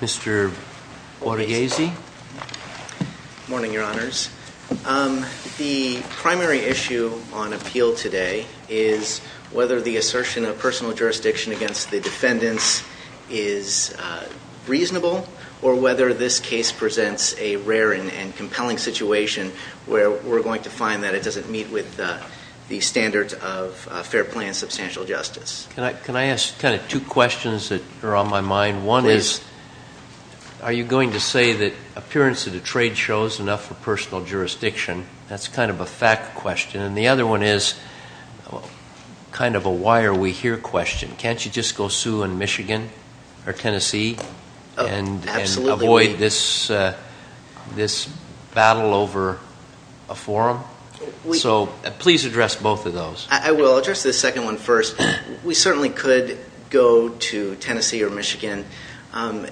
Mr. Wadeghazi. Morning, Your Honors. The primary issue on appeal today is whether the assertion of personal jurisdiction against the defendants is reasonable or whether this case presents a rare and compelling situation where we're going to find that it doesn't meet with the standards of fair play and substantial justice. Can I ask kind of two questions that are on my mind? One is, are you going to say that appearance at a trade show is enough for personal jurisdiction? That's kind of a fact question. And the other one is kind of a why are we just go sue in Michigan or Tennessee and avoid this battle over a forum? So please address both of those. I will address the second one first. We certainly could go to Tennessee or Michigan.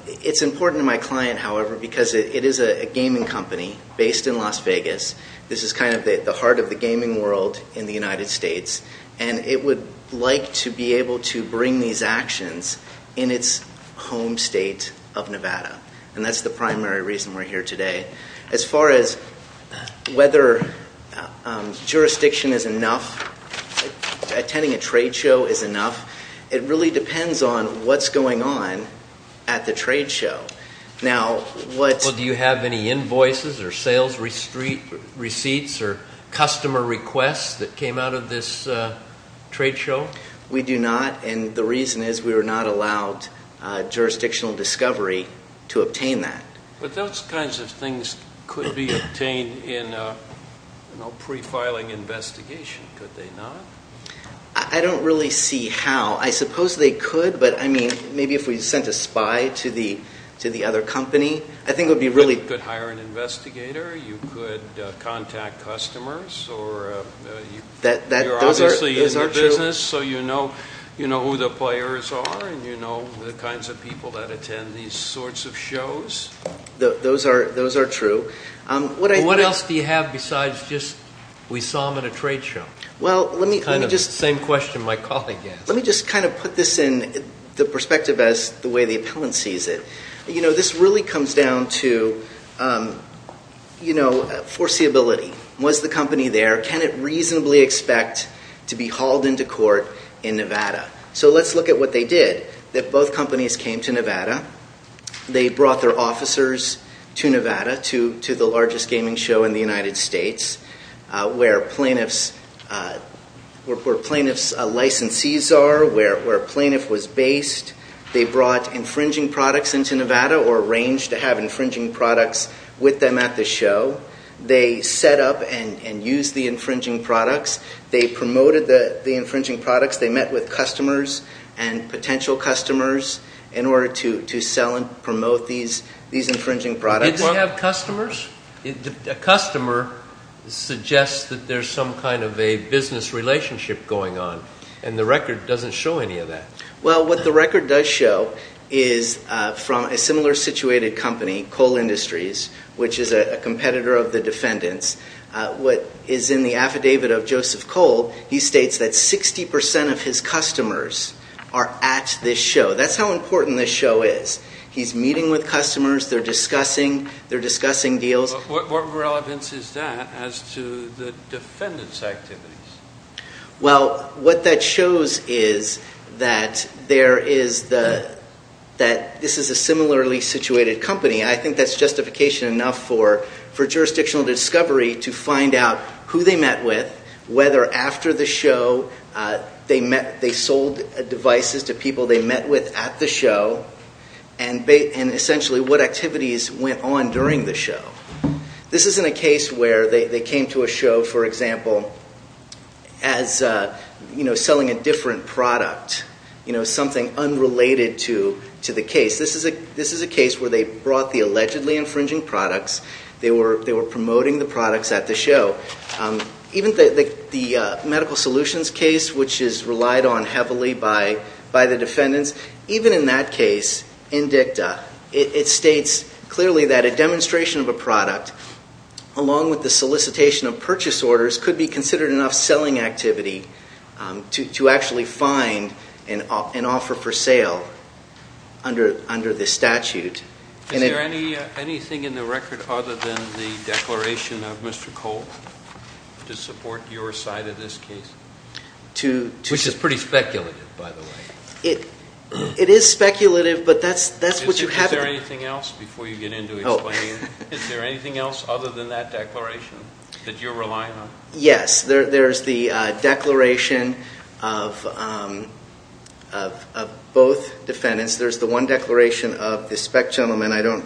It's important to my client, however, because it is a gaming company based in Las Vegas. This is kind of the heart of the gaming world in the United States and it would like to be able to bring these actions in its home state of Nevada. And that's the primary reason we're here today. As far as whether jurisdiction is enough, attending a trade show is enough, it really depends on what's going on at the trade show. Now, what... Well, do you have any invoices or sales receipts or customer requests that came out of this trade show? We do not and the reason is we were not allowed jurisdictional discovery to obtain that. But those kinds of things could be obtained in a pre-filing investigation, could they not? I don't really see how. I suppose they could, but I mean maybe if we sent a spy to the other company, I think it would be really... You could hire an investigator, you could contact customers, you're obviously in the business so you know who the players are and you know the kinds of people that attend these sorts of shows. Those are true. What else do you have besides just we saw them at a trade show? Well, let me just... Same question my colleague asked. Let me just kind of put this in the perspective as the way the appellant sees it. You know, this really comes down to foreseeability. Was the company there? Can it reasonably expect to be hauled into court in Nevada? So let's look at what they did. Both companies came to Nevada. They brought their officers to Nevada to the largest gaming show in the United States where plaintiffs' licensees are, where they brought infringing products into Nevada or arranged to have infringing products with them at the show. They set up and used the infringing products. They promoted the infringing products. They met with customers and potential customers in order to sell and promote these infringing products. Did they have customers? A customer suggests that there's some kind of a business relationship going on and the record doesn't show any of that. Well, what the record does show is from a similar situated company, Kohl Industries, which is a competitor of the defendants. What is in the affidavit of Joseph Kohl, he states that 60% of his customers are at this show. That's how important this show is. He's meeting with customers. They're discussing. They're discussing deals. What relevance is that as to the defendant's is that there is the, that this is a similarly situated company. I think that's justification enough for jurisdictional discovery to find out who they met with, whether after the show they met, they sold devices to people they met with at the show, and essentially what activities went on during the show. This isn't a case where they came to a show, for example, as, you know, selling a different product, you know, something unrelated to the case. This is a case where they brought the allegedly infringing products. They were promoting the products at the show. Even the medical solutions case, which is relied on heavily by the defendants, even in that case, in dicta, it states clearly that a demonstration of a product, along with the solicitation of purchase orders, could be considered enough selling activity to actually find an offer for sale under the statute. Is there anything in the record other than the declaration of Mr. Kohl to support your side of this case? Which is pretty speculative, by the way. It is speculative, but that's what you have to... Is there anything else before you get into explaining? Is there anything else other than that declaration that you're relying on? Yes. There's the declaration of both defendants. There's the one declaration of the spec gentleman. I don't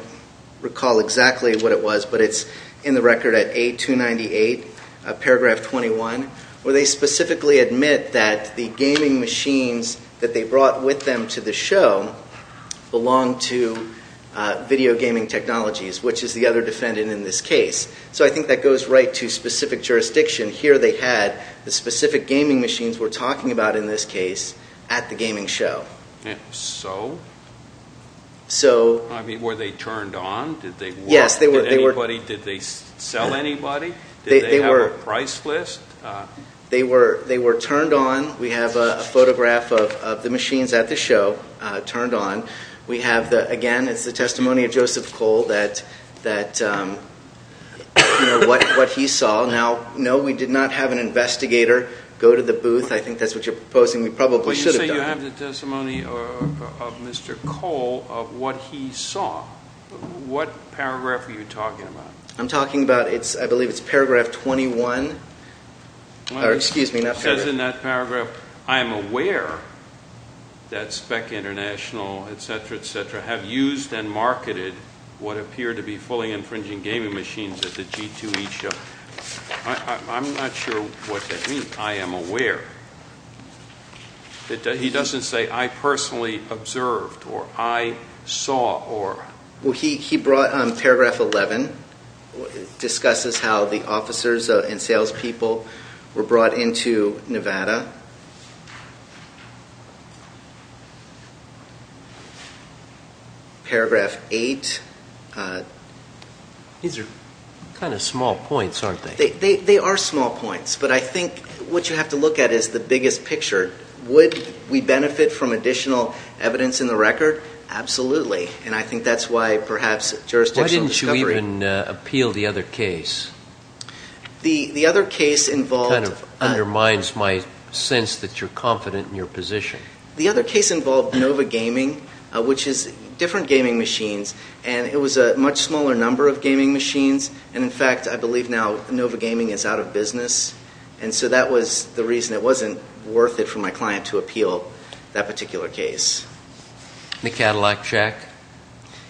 recall exactly what it was, but it's in the record at A298, paragraph 21, where they specifically admit that the gaming machines that they brought with them to the show belonged to Video Gaming Technologies, which is the other defendant in this case. I think that goes right to specific jurisdiction. Here they had the specific gaming machines we're talking about in this case at the gaming show. Were they turned on? Did they work? Did they sell anybody? Did they have a price list? They were turned on. We have a photograph of the machines at the show turned on. We have, again, it's the testimony of Joseph Kohl that what he saw. Now, no, we did not have an investigator go to the booth. I think that's what you're proposing. We probably should have done that. Well, you say you have the testimony of Mr. Kohl of what he saw. What paragraph are you talking about? I'm talking about, I believe it's paragraph 21. It says in that paragraph, I am aware that Spec International, etc., etc., have used and marketed what appear to be fully infringing gaming machines at the G2E show. I'm not sure what that means, I am aware. He doesn't say I personally observed or I saw. He brought paragraph 11. It discusses how the officers and sales people were brought into Nevada. Paragraph 8. These are kind of small points, aren't they? They are small points, but I think what you have to look at is the biggest picture. Would we benefit from additional evidence in the record? Absolutely, and I think that's why perhaps jurisdictional discovery... Why didn't you even appeal the other case? The other case involved... It kind of undermines my sense that you're confident in your position. The other case involved Nova Gaming, which is different gaming machines, and it was a much smaller number of gaming machines. In fact, I believe now Nova Gaming is out of business, and so that was the reason it wasn't worth it for my client to appeal that particular case. The Cadillac Jack?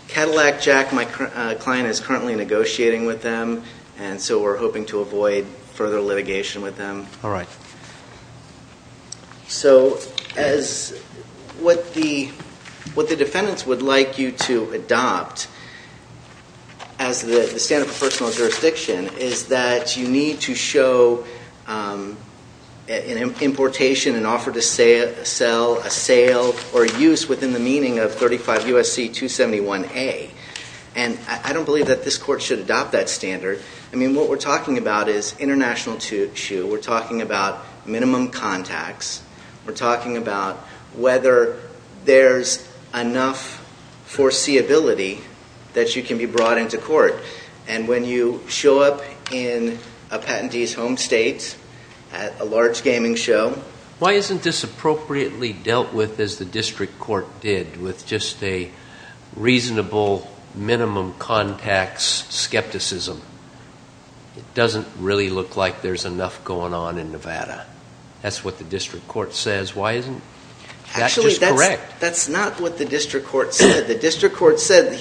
Cadillac Jack, my client is currently negotiating with them, and so we're hoping to avoid further litigation with them. So what the defendants would like you to adopt as the standard for personal jurisdiction is that you need to show an importation, an offer to sell, a sale, or use within the meaning of 35 U.S.C. 271A, and I don't believe that this court should adopt that standard. I mean, what we're talking about is international tissue. We're talking about minimum contacts. We're talking about whether there's enough foreseeability that you can be brought into court, and when you show up in a patentee's home state at a large gaming show... Why isn't this appropriately dealt with as the district court did, with just a reasonable minimum contacts skepticism? It doesn't really look like there's enough going on in Nevada. That's what the district court says. Why isn't that just correct? That's not what the district court said. The district court said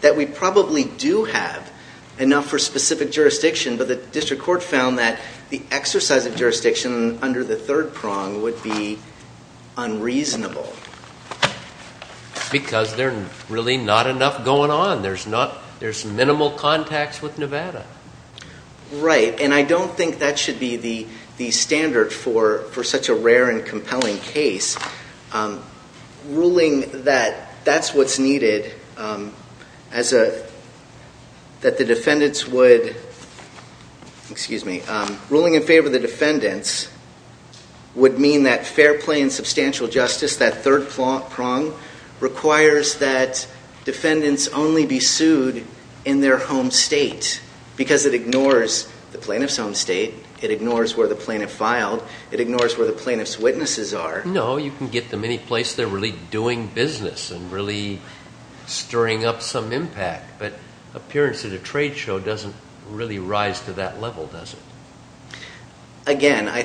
that we probably do have enough for specific jurisdiction, but the district court found that the exercise of jurisdiction under the third prong would be unreasonable. Because there's really not enough going on. There's minimal contacts with Nevada. Right, and I don't think that should be the standard for such a rare and compelling case. Ruling that that's what's needed, that the defendants would... Excuse me. Ruling in favor of the defendants would mean that fair play and substantial justice, that third prong, requires that defendants only be sued in their home state, because it ignores the plaintiff's home state. It ignores where the plaintiff filed. It ignores where the plaintiff's witnesses are. No, you can get them any place they're really doing business and really stirring up some impact, but appearance at a trade show doesn't really rise to that level, does it? Again, I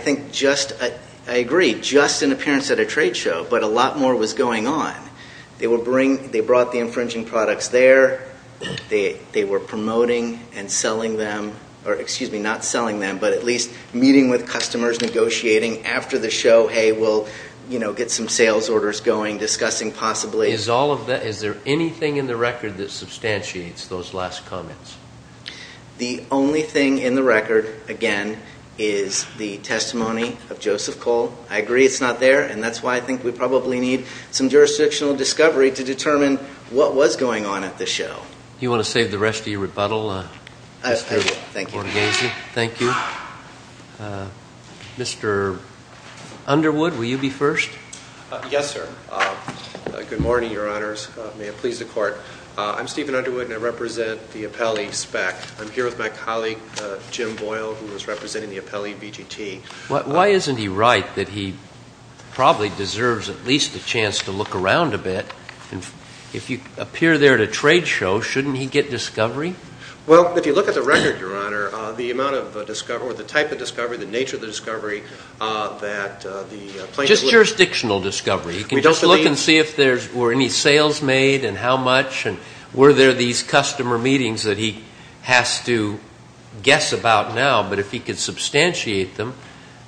agree. Just an appearance at a trade show, but a lot more was going on. They brought the infringing products there. They were promoting and selling them. Excuse me, not selling them, but at least meeting with customers, negotiating. After the show, hey, we'll get some sales orders going, discussing possibly... Is there anything in the record that substantiates those last comments? The only thing in the record, again, is the testimony of Joseph Cole. I agree it's not there, and that's why I think we probably need some jurisdictional discovery to determine what was going on at the show. You want to save the rest of your rebuttal, Mr. Orgazy? Thank you. Mr. Underwood, will you be first? Yes, sir. Good morning, Your Honors. May it please the Court. I'm Stephen Underwood, and I represent the appellee spec. I'm here with my colleague, Jim Boyle, who is representing the appellee BGT. Why isn't he right that he probably deserves at least a chance to look around a bit? If you appear there at a trade show, shouldn't he get discovery? Well, if you look at the record, Your Honor, the amount of discovery, or the type of discovery, the nature of the discovery that the plaintiff... Just jurisdictional discovery. You can just look and see if there were any sales made and how much, and were there these customer meetings that he has to guess about now. But if he could substantiate them,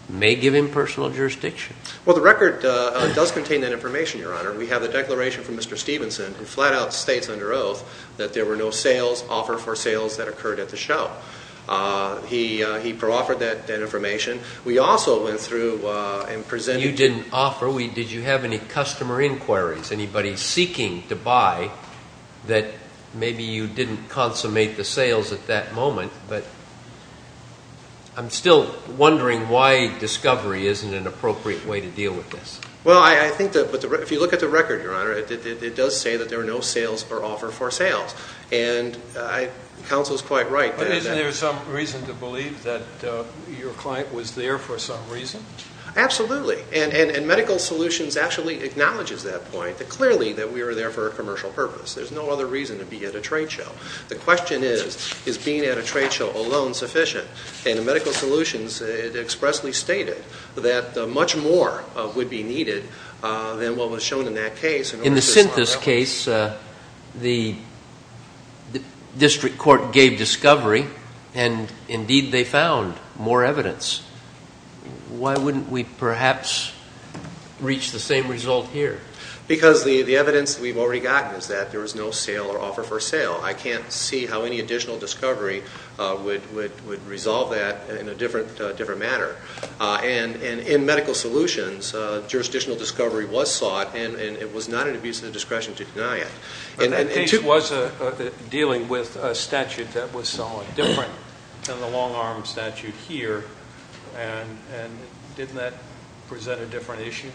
it may give him personal jurisdiction. Well, the record does contain that information, Your Honor. We have the declaration from Mr. at the show. He proffered that information. We also went through and presented... You didn't offer. Did you have any customer inquiries, anybody seeking to buy, that maybe you didn't consummate the sales at that moment? But I'm still wondering why discovery isn't an appropriate way to deal with this. Well, I think that if you look at the record, Your Honor, it does say that there were no sales or offer for sales. And counsel is quite right. But isn't there some reason to believe that your client was there for some reason? Absolutely. And Medical Solutions actually acknowledges that point, that clearly that we were there for a commercial purpose. There's no other reason to be at a trade show. The question is, is being at a trade show alone sufficient? And in Medical Solutions, it expressly stated that much more would be needed than what was shown in that case. In the Synthesis case, the district court gave discovery, and indeed they found more evidence. Why wouldn't we perhaps reach the same result here? Because the evidence we've already gotten is that there was no sale or offer for sale. I can't see how any additional discovery would resolve that in a different manner. And in that case, it was dealing with a statute that was somewhat different than the long arm statute here. And didn't that present a different issue?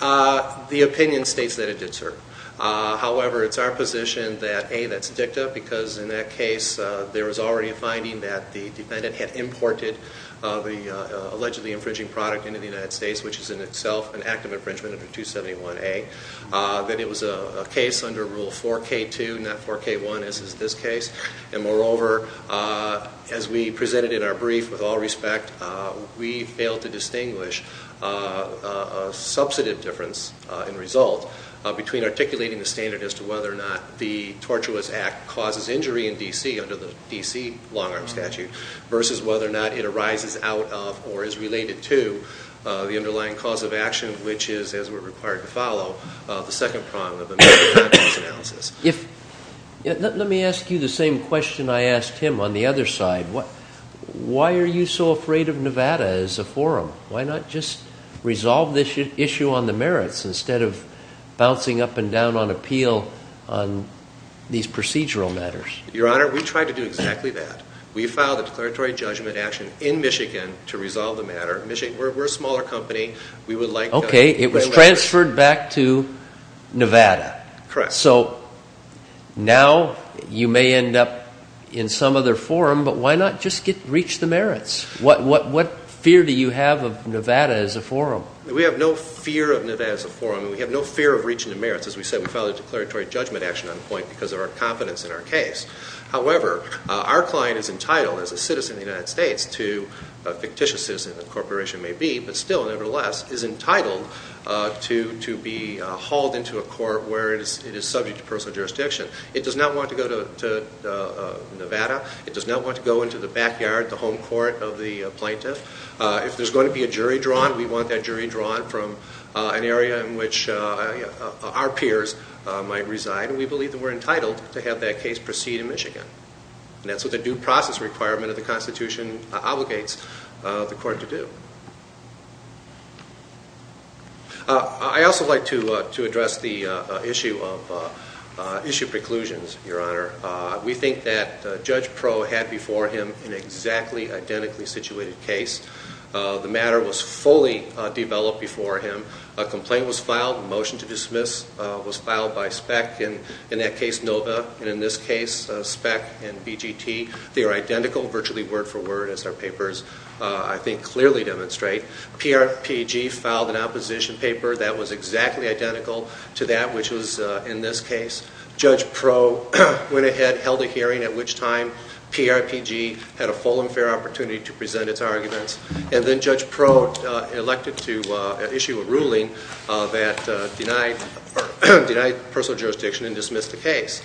The opinion states that it did, sir. However, it's our position that, A, that's dicta, because in that case, there was already a finding that the defendant had imported the allegedly infringing product into the United States, which is in itself an act of infringement under 271A, that it was a case under Rule 4K2, not 4K1, as is this case. And moreover, as we presented in our brief, with all respect, we failed to distinguish a substantive difference in result between articulating the standard as to whether or not the tortuous act causes injury in D.C. under the D.C. long arm statute, versus whether or not it arises out of or is related to the underlying cause of action, which is, as we're required to follow, the second prong of the merits and actions analysis. Let me ask you the same question I asked him on the other side. Why are you so afraid of Nevada as a forum? Why not just resolve this issue on the merits instead of bouncing up and down on appeal on these procedural matters? Your Honor, we tried to do exactly that. We filed a declaratory judgment action in Michigan to resolve the matter. Michigan, we're a smaller company. We would like to... Okay. It was transferred back to Nevada. Correct. So now you may end up in some other forum, but why not just reach the merits? What fear do you have of Nevada as a forum? We have no fear of Nevada as a forum, and we have no fear of reaching the merits. As we said, we filed a declaratory judgment action on the point because of our confidence in our case. However, our client is entitled as a citizen of the United States to, a fictitious citizen the corporation may be, but still nevertheless is entitled to be hauled into a court where it is subject to personal jurisdiction. It does not want to go to Nevada. It does not want to go into the backyard, the home court of the plaintiff. If there's going to be a jury drawn, we want that jury drawn from an area in which our peers might reside, and we believe that we're entitled to have that case proceed in Michigan. And that's what the due process requirement of the Constitution obligates the court to do. I also would like to address the issue of preclusions, Your Honor. We think that Judge Pro had before him an exactly identically situated case. The matter was fully developed before him. A complaint was filed, a motion to dismiss was filed by SPEC, and in that case, NOVA, and in this case, SPEC and BGT. They are identical virtually word for word as our papers, I think, clearly demonstrate. PRPG filed an opposition paper that was exactly identical to that which was in this case. Judge Pro went ahead, held a hearing, at which time PRPG had a full and fair opportunity to present its arguments. And then Judge Pro elected to issue a ruling that denied personal jurisdiction and dismissed the case.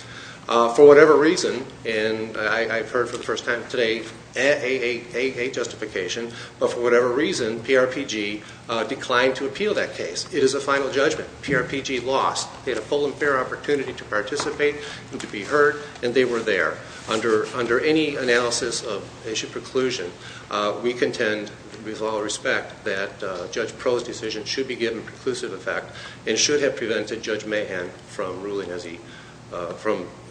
For whatever reason, and I've heard for the first time today, AA justification, but for whatever reason PRPG declined to appeal that case. It is a final judgment. PRPG lost. They had a full and fair opportunity to participate and to be heard, and they were there. Under any analysis of issue preclusion, we contend, with all respect, that Judge Pro's decision should be given preclusive effect and should have prevented Judge Mahan from ruling,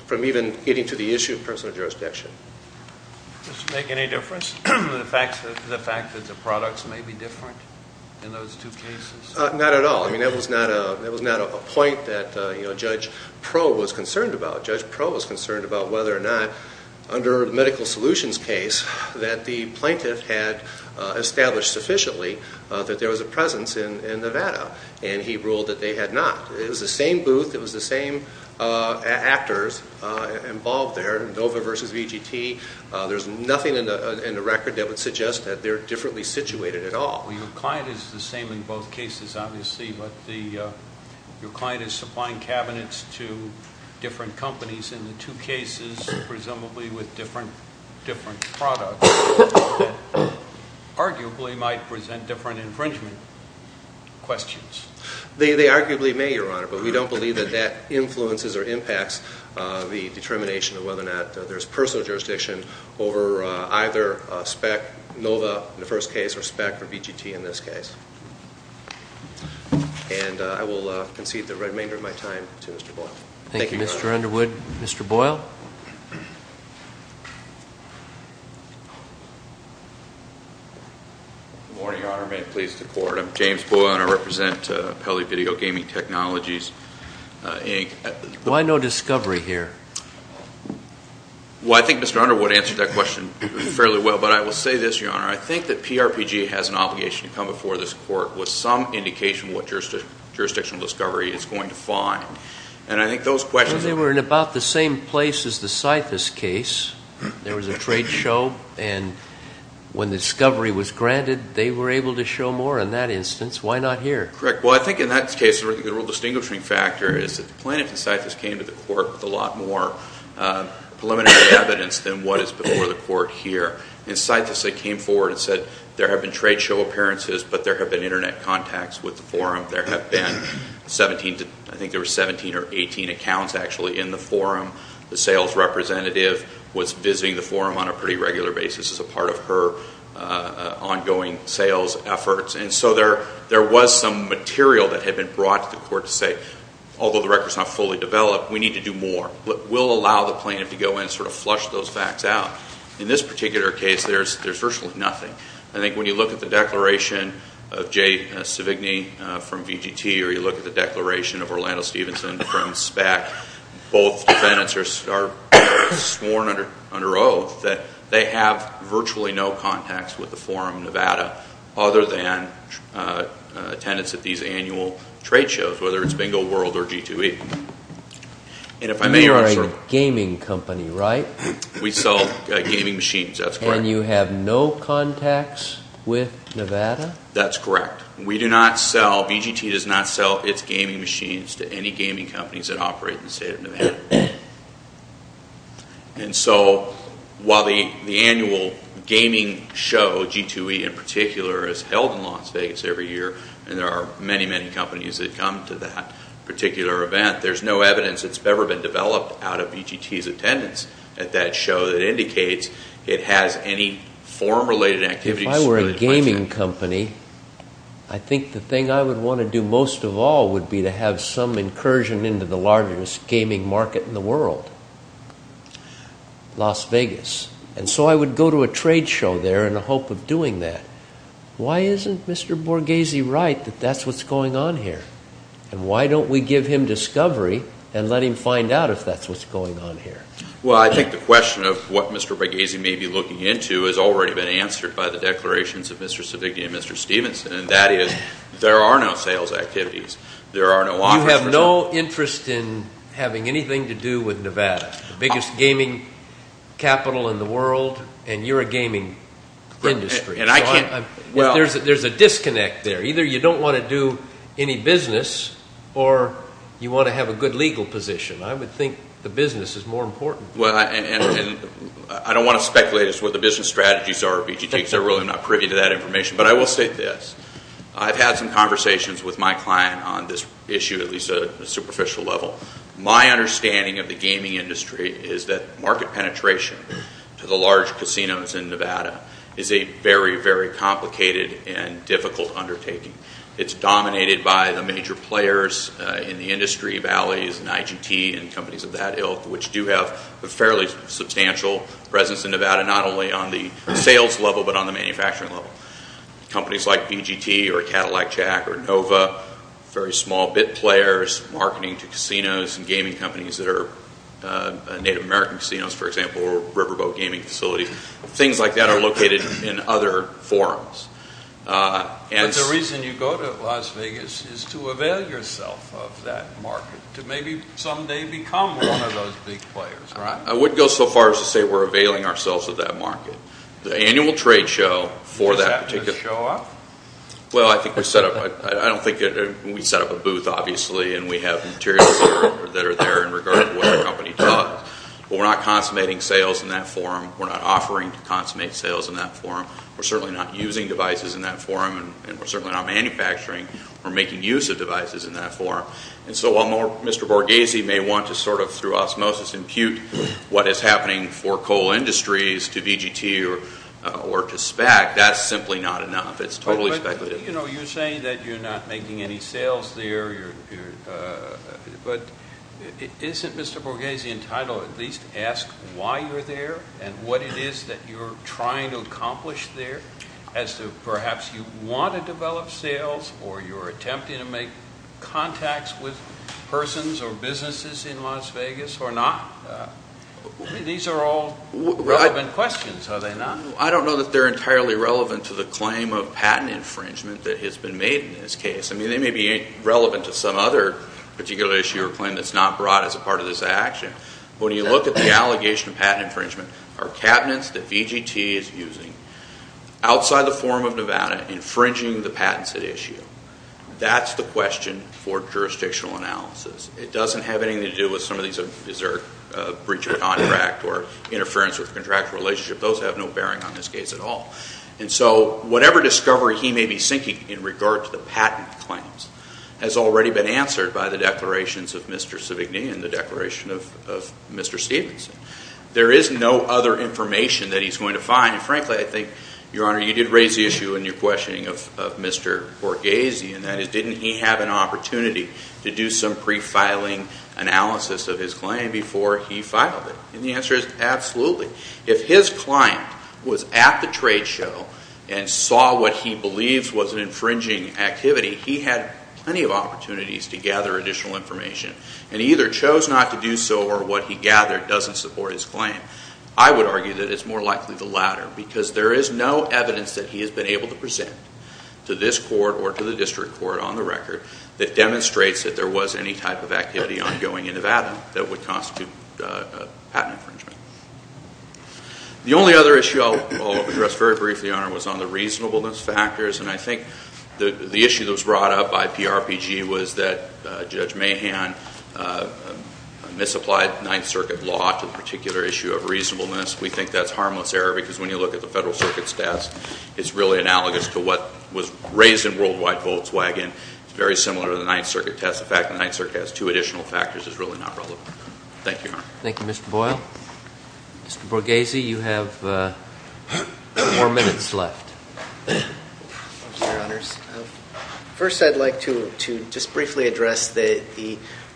from even getting to the issue of personal jurisdiction. Did this make any difference? The fact that the products may be different in those two cases? Not at all. That was not a point that Judge Pro was concerned about, whether or not, under the medical solutions case, that the plaintiff had established sufficiently that there was a presence in Nevada. And he ruled that they had not. It was the same booth, it was the same actors involved there, NOVA versus VGT. There's nothing in the record that would suggest that they're differently situated at all. Your client is the same in both cases, obviously, but your client is different companies in the two cases, presumably with different products, that arguably might present different infringement questions. They arguably may, Your Honor, but we don't believe that that influences or impacts the determination of whether or not there's personal jurisdiction over either SPEC, NOVA in the first case, or SPEC or VGT in this case. And I will concede the remainder of my time to Mr. Boyle. Thank you, Your Honor. Thank you, Mr. Underwood. Mr. Boyle? Good morning, Your Honor. May it please the Court. I'm James Boyle, and I represent Pele Video Gaming Technologies, Inc. Why no discovery here? Well, I think Mr. Underwood answered that question fairly well, but I will say this, Your Honor. I think that PRPG has an obligation to come before this Court with some indication of what jurisdictional discovery is going to find, and I think those questions... Well, they were in about the same place as the Scythus case. There was a trade show, and when the discovery was granted, they were able to show more in that instance. Why not here? Correct. Well, I think in that case, the real distinguishing factor is that the plaintiff in Scythus came to the Court with a lot more preliminary evidence than what is before the Court here. In Scythus, they came forward and said there have been trade show appearances, but there have been Internet contacts with the forum. There have been 17, I think there were 17 or 18 accounts actually in the forum. The sales representative was visiting the forum on a pretty regular basis as a part of her ongoing sales efforts, and so there was some material that had been brought to the Court to say, although the record is not fully developed, we need to do more, but we'll allow the plaintiff to go in and sort of flush those facts out. In this particular case, there's virtually nothing. I think when you look at the declaration of Jay Sevigny from VGT, or you look at the declaration of Orlando Stevenson from SPAC, both defendants are sworn under oath that they have virtually no contacts with the forum in Nevada, other than attendance at these annual trade shows, whether it's Bingo World or G2E. You are a gaming company, right? We sell gaming machines, that's correct. And you have no contacts with Nevada? That's correct. We do not sell, VGT does not sell its gaming machines to any gaming companies that operate in the state of Nevada. And so while the annual gaming show, G2E in particular, is held in Las Vegas every year, and there are many, many companies that come to that particular event, there's no evidence that's ever been developed out of VGT's attendance at that show that indicates it has any forum-related activities. If I were a gaming company, I think the thing I would want to do most of all would be to have some incursion into the largest gaming market in the world, Las Vegas. And so I would go to a trade show there in the hope of doing that. Why isn't Mr. Borghese right that that's what's going on here? And why don't we give him discovery and let him find out if that's what's going on here? Well, I think the question of what Mr. Borghese may be looking into has already been answered by the declarations of Mr. Savigna and Mr. Stevenson, and that is there are no sales activities. There are no offers for sales. You have no interest in having anything to do with Nevada, the biggest gaming capital in the world, and you're a gaming industry. And I can't, well... There's a disconnect there. Either you don't want to do any business or you want to have a good legal position. I would think the business is more important. Well, and I don't want to speculate as to what the business strategies are of EGT because I'm really not privy to that information, but I will say this. I've had some conversations with my client on this issue, at least at a superficial level. My understanding of the gaming industry is that market penetration to the large casinos in Nevada is a very, very complicated and difficult undertaking. It's dominated by the major players in the Valleys and IGT and companies of that ilk, which do have a fairly substantial presence in Nevada, not only on the sales level, but on the manufacturing level. Companies like BGT or Cadillac Jack or Nova, very small bit players, marketing to casinos and gaming companies that are Native American casinos, for example, or riverboat gaming facilities. Things like that are located in other forums. But the reason you go to Las Vegas is to avail yourself of that market, to maybe someday become one of those big players, right? I wouldn't go so far as to say we're availing ourselves of that market. The annual trade show for that particular... Does that just show up? Well, I think we set up... I don't think... We set up a booth, obviously, and we have materials that are there in regard to what the company does. But we're not consummating sales in that forum. We're not offering to consummate sales in that forum. We're certainly not using devices in that forum, and we're certainly not manufacturing or making use of devices in that forum. And so while Mr. Borghese may want to sort of, through osmosis, impute what is happening for coal industries to BGT or to SPAC, that's simply not enough. It's totally speculative. But, you know, you're saying that you're not making any sales there. But isn't Mr. Borghese entitled to at least ask why you're there and what it is that you're trying to accomplish there as to perhaps you want to develop sales or you're attempting to make contacts with persons or businesses in Las Vegas or not? These are all relevant questions, are they not? I don't know that they're entirely relevant to the claim of patent infringement that has been made in this case. I mean, they may be relevant to some other particular issue or When you look at the allegation of patent infringement, are cabinets that BGT is using outside the Forum of Nevada infringing the patents at issue? That's the question for jurisdictional analysis. It doesn't have anything to do with some of these breach of contract or interference with contractual relationship. Those have no bearing on this case at all. And so whatever discovery he may be seeking in regard to the patent claims has already been answered by the declarations of Mr. Sivigny and the declaration of Mr. Stephenson. There is no other information that he's going to find. And frankly, I think, Your Honor, you did raise the issue in your questioning of Mr. Borghese, and that is didn't he have an opportunity to do some pre-filing analysis of his claim before he filed it? And the answer is absolutely. If his client was at the trade show and saw what he believes was an infringing activity, he had plenty of opportunities to gather additional information. And he either chose not to do so or what he gathered doesn't support his claim. I would argue that it's more likely the latter because there is no evidence that he has been able to present to this court or to the district court on the record that demonstrates that there was any type of activity ongoing in Nevada that would constitute a patent infringement. The only other issue I'll address very briefly, Your Honor, was on the reasonableness factors. And I think the issue that was brought up by PRPG was that Judge Mahan misapplied Ninth Circuit law to the particular issue of reasonableness. We think that's harmless error because when you look at the Federal Circuit's test, it's really analogous to what was raised in Worldwide Volkswagen. It's very similar to the Ninth Circuit test. The fact that the Ninth Circuit has two additional factors is really not relevant. Thank you, Your Honor. Thank you, Mr. Boyle. Mr. Borghese, you have four minutes left. Thank you, Your Honors. First, I'd like to just briefly address the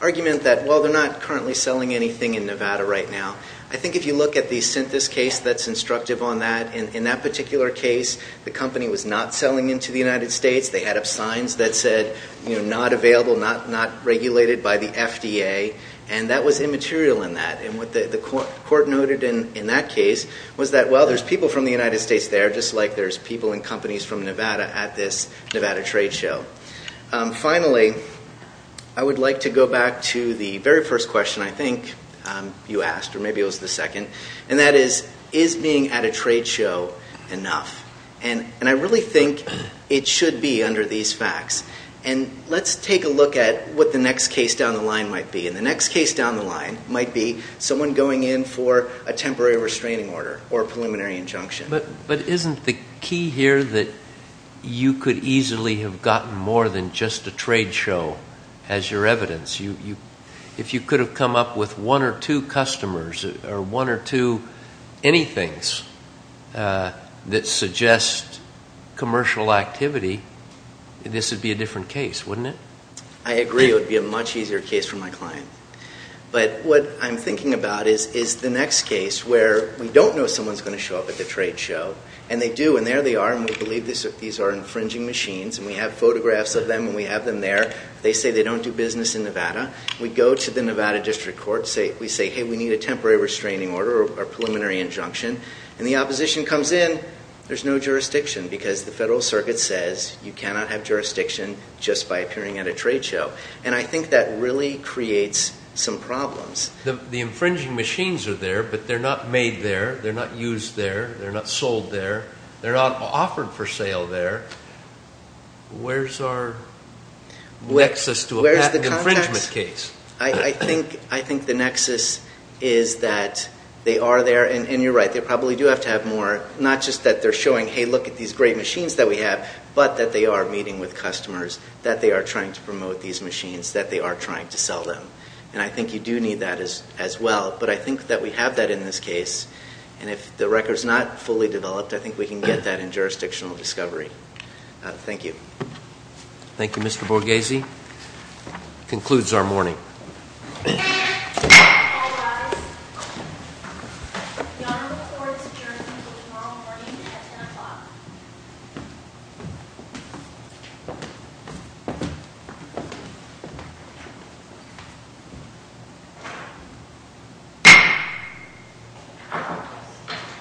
argument that while they're not currently selling anything in Nevada right now, I think if you look at the Synthesis case, that's instructive on that. In that particular case, the company was not selling into the United States. They had up signs that said, you know, not available, not regulated by the FDA, and that was immaterial in that. And what the court noted in that case was that, well, there's people from the United States there, just like there's people and companies from Nevada at this Nevada trade show. Finally, I would like to go back to the very first question I think you asked, or maybe it was the second, and that is, is being at a trade show enough? And I really think it is. Let's take a look at what the next case down the line might be. And the next case down the line might be someone going in for a temporary restraining order or a preliminary injunction. But isn't the key here that you could easily have gotten more than just a trade show as your evidence? If you could have come up with one or two customers or one or two anythings that suggest commercial activity, this would be a different case, wouldn't it? I agree. It would be a much easier case for my client. But what I'm thinking about is the next case where we don't know someone's going to show up at the trade show, and they do, and there they are, and we believe these are infringing machines, and we have photographs of them, and we have them there. They say they don't do business in Nevada. We go to the Nevada District Court, we say, hey, we need a temporary restraining order or a preliminary injunction. And the opposition comes in, there's no jurisdiction because the Federal Circuit says you cannot have jurisdiction just by appearing at a trade show. And I think that really creates some problems. The infringing machines are there, but they're not made there, they're not used there, they're not sold there, they're not offered for sale there. Where's our nexus to a infringement case? I think the nexus is that they are there, and you're right, they probably do have to have more, not just that they're showing, hey, look at these great machines that we have, but that they are meeting with customers, that they are trying to promote these machines, that they are trying to sell them. And I think you do need that as well. But I think that we have that in this case, and if the record's not fully developed, I think we can get that in jurisdictional discovery. Thank you. Thank you, Mr. Borghese. That concludes our morning.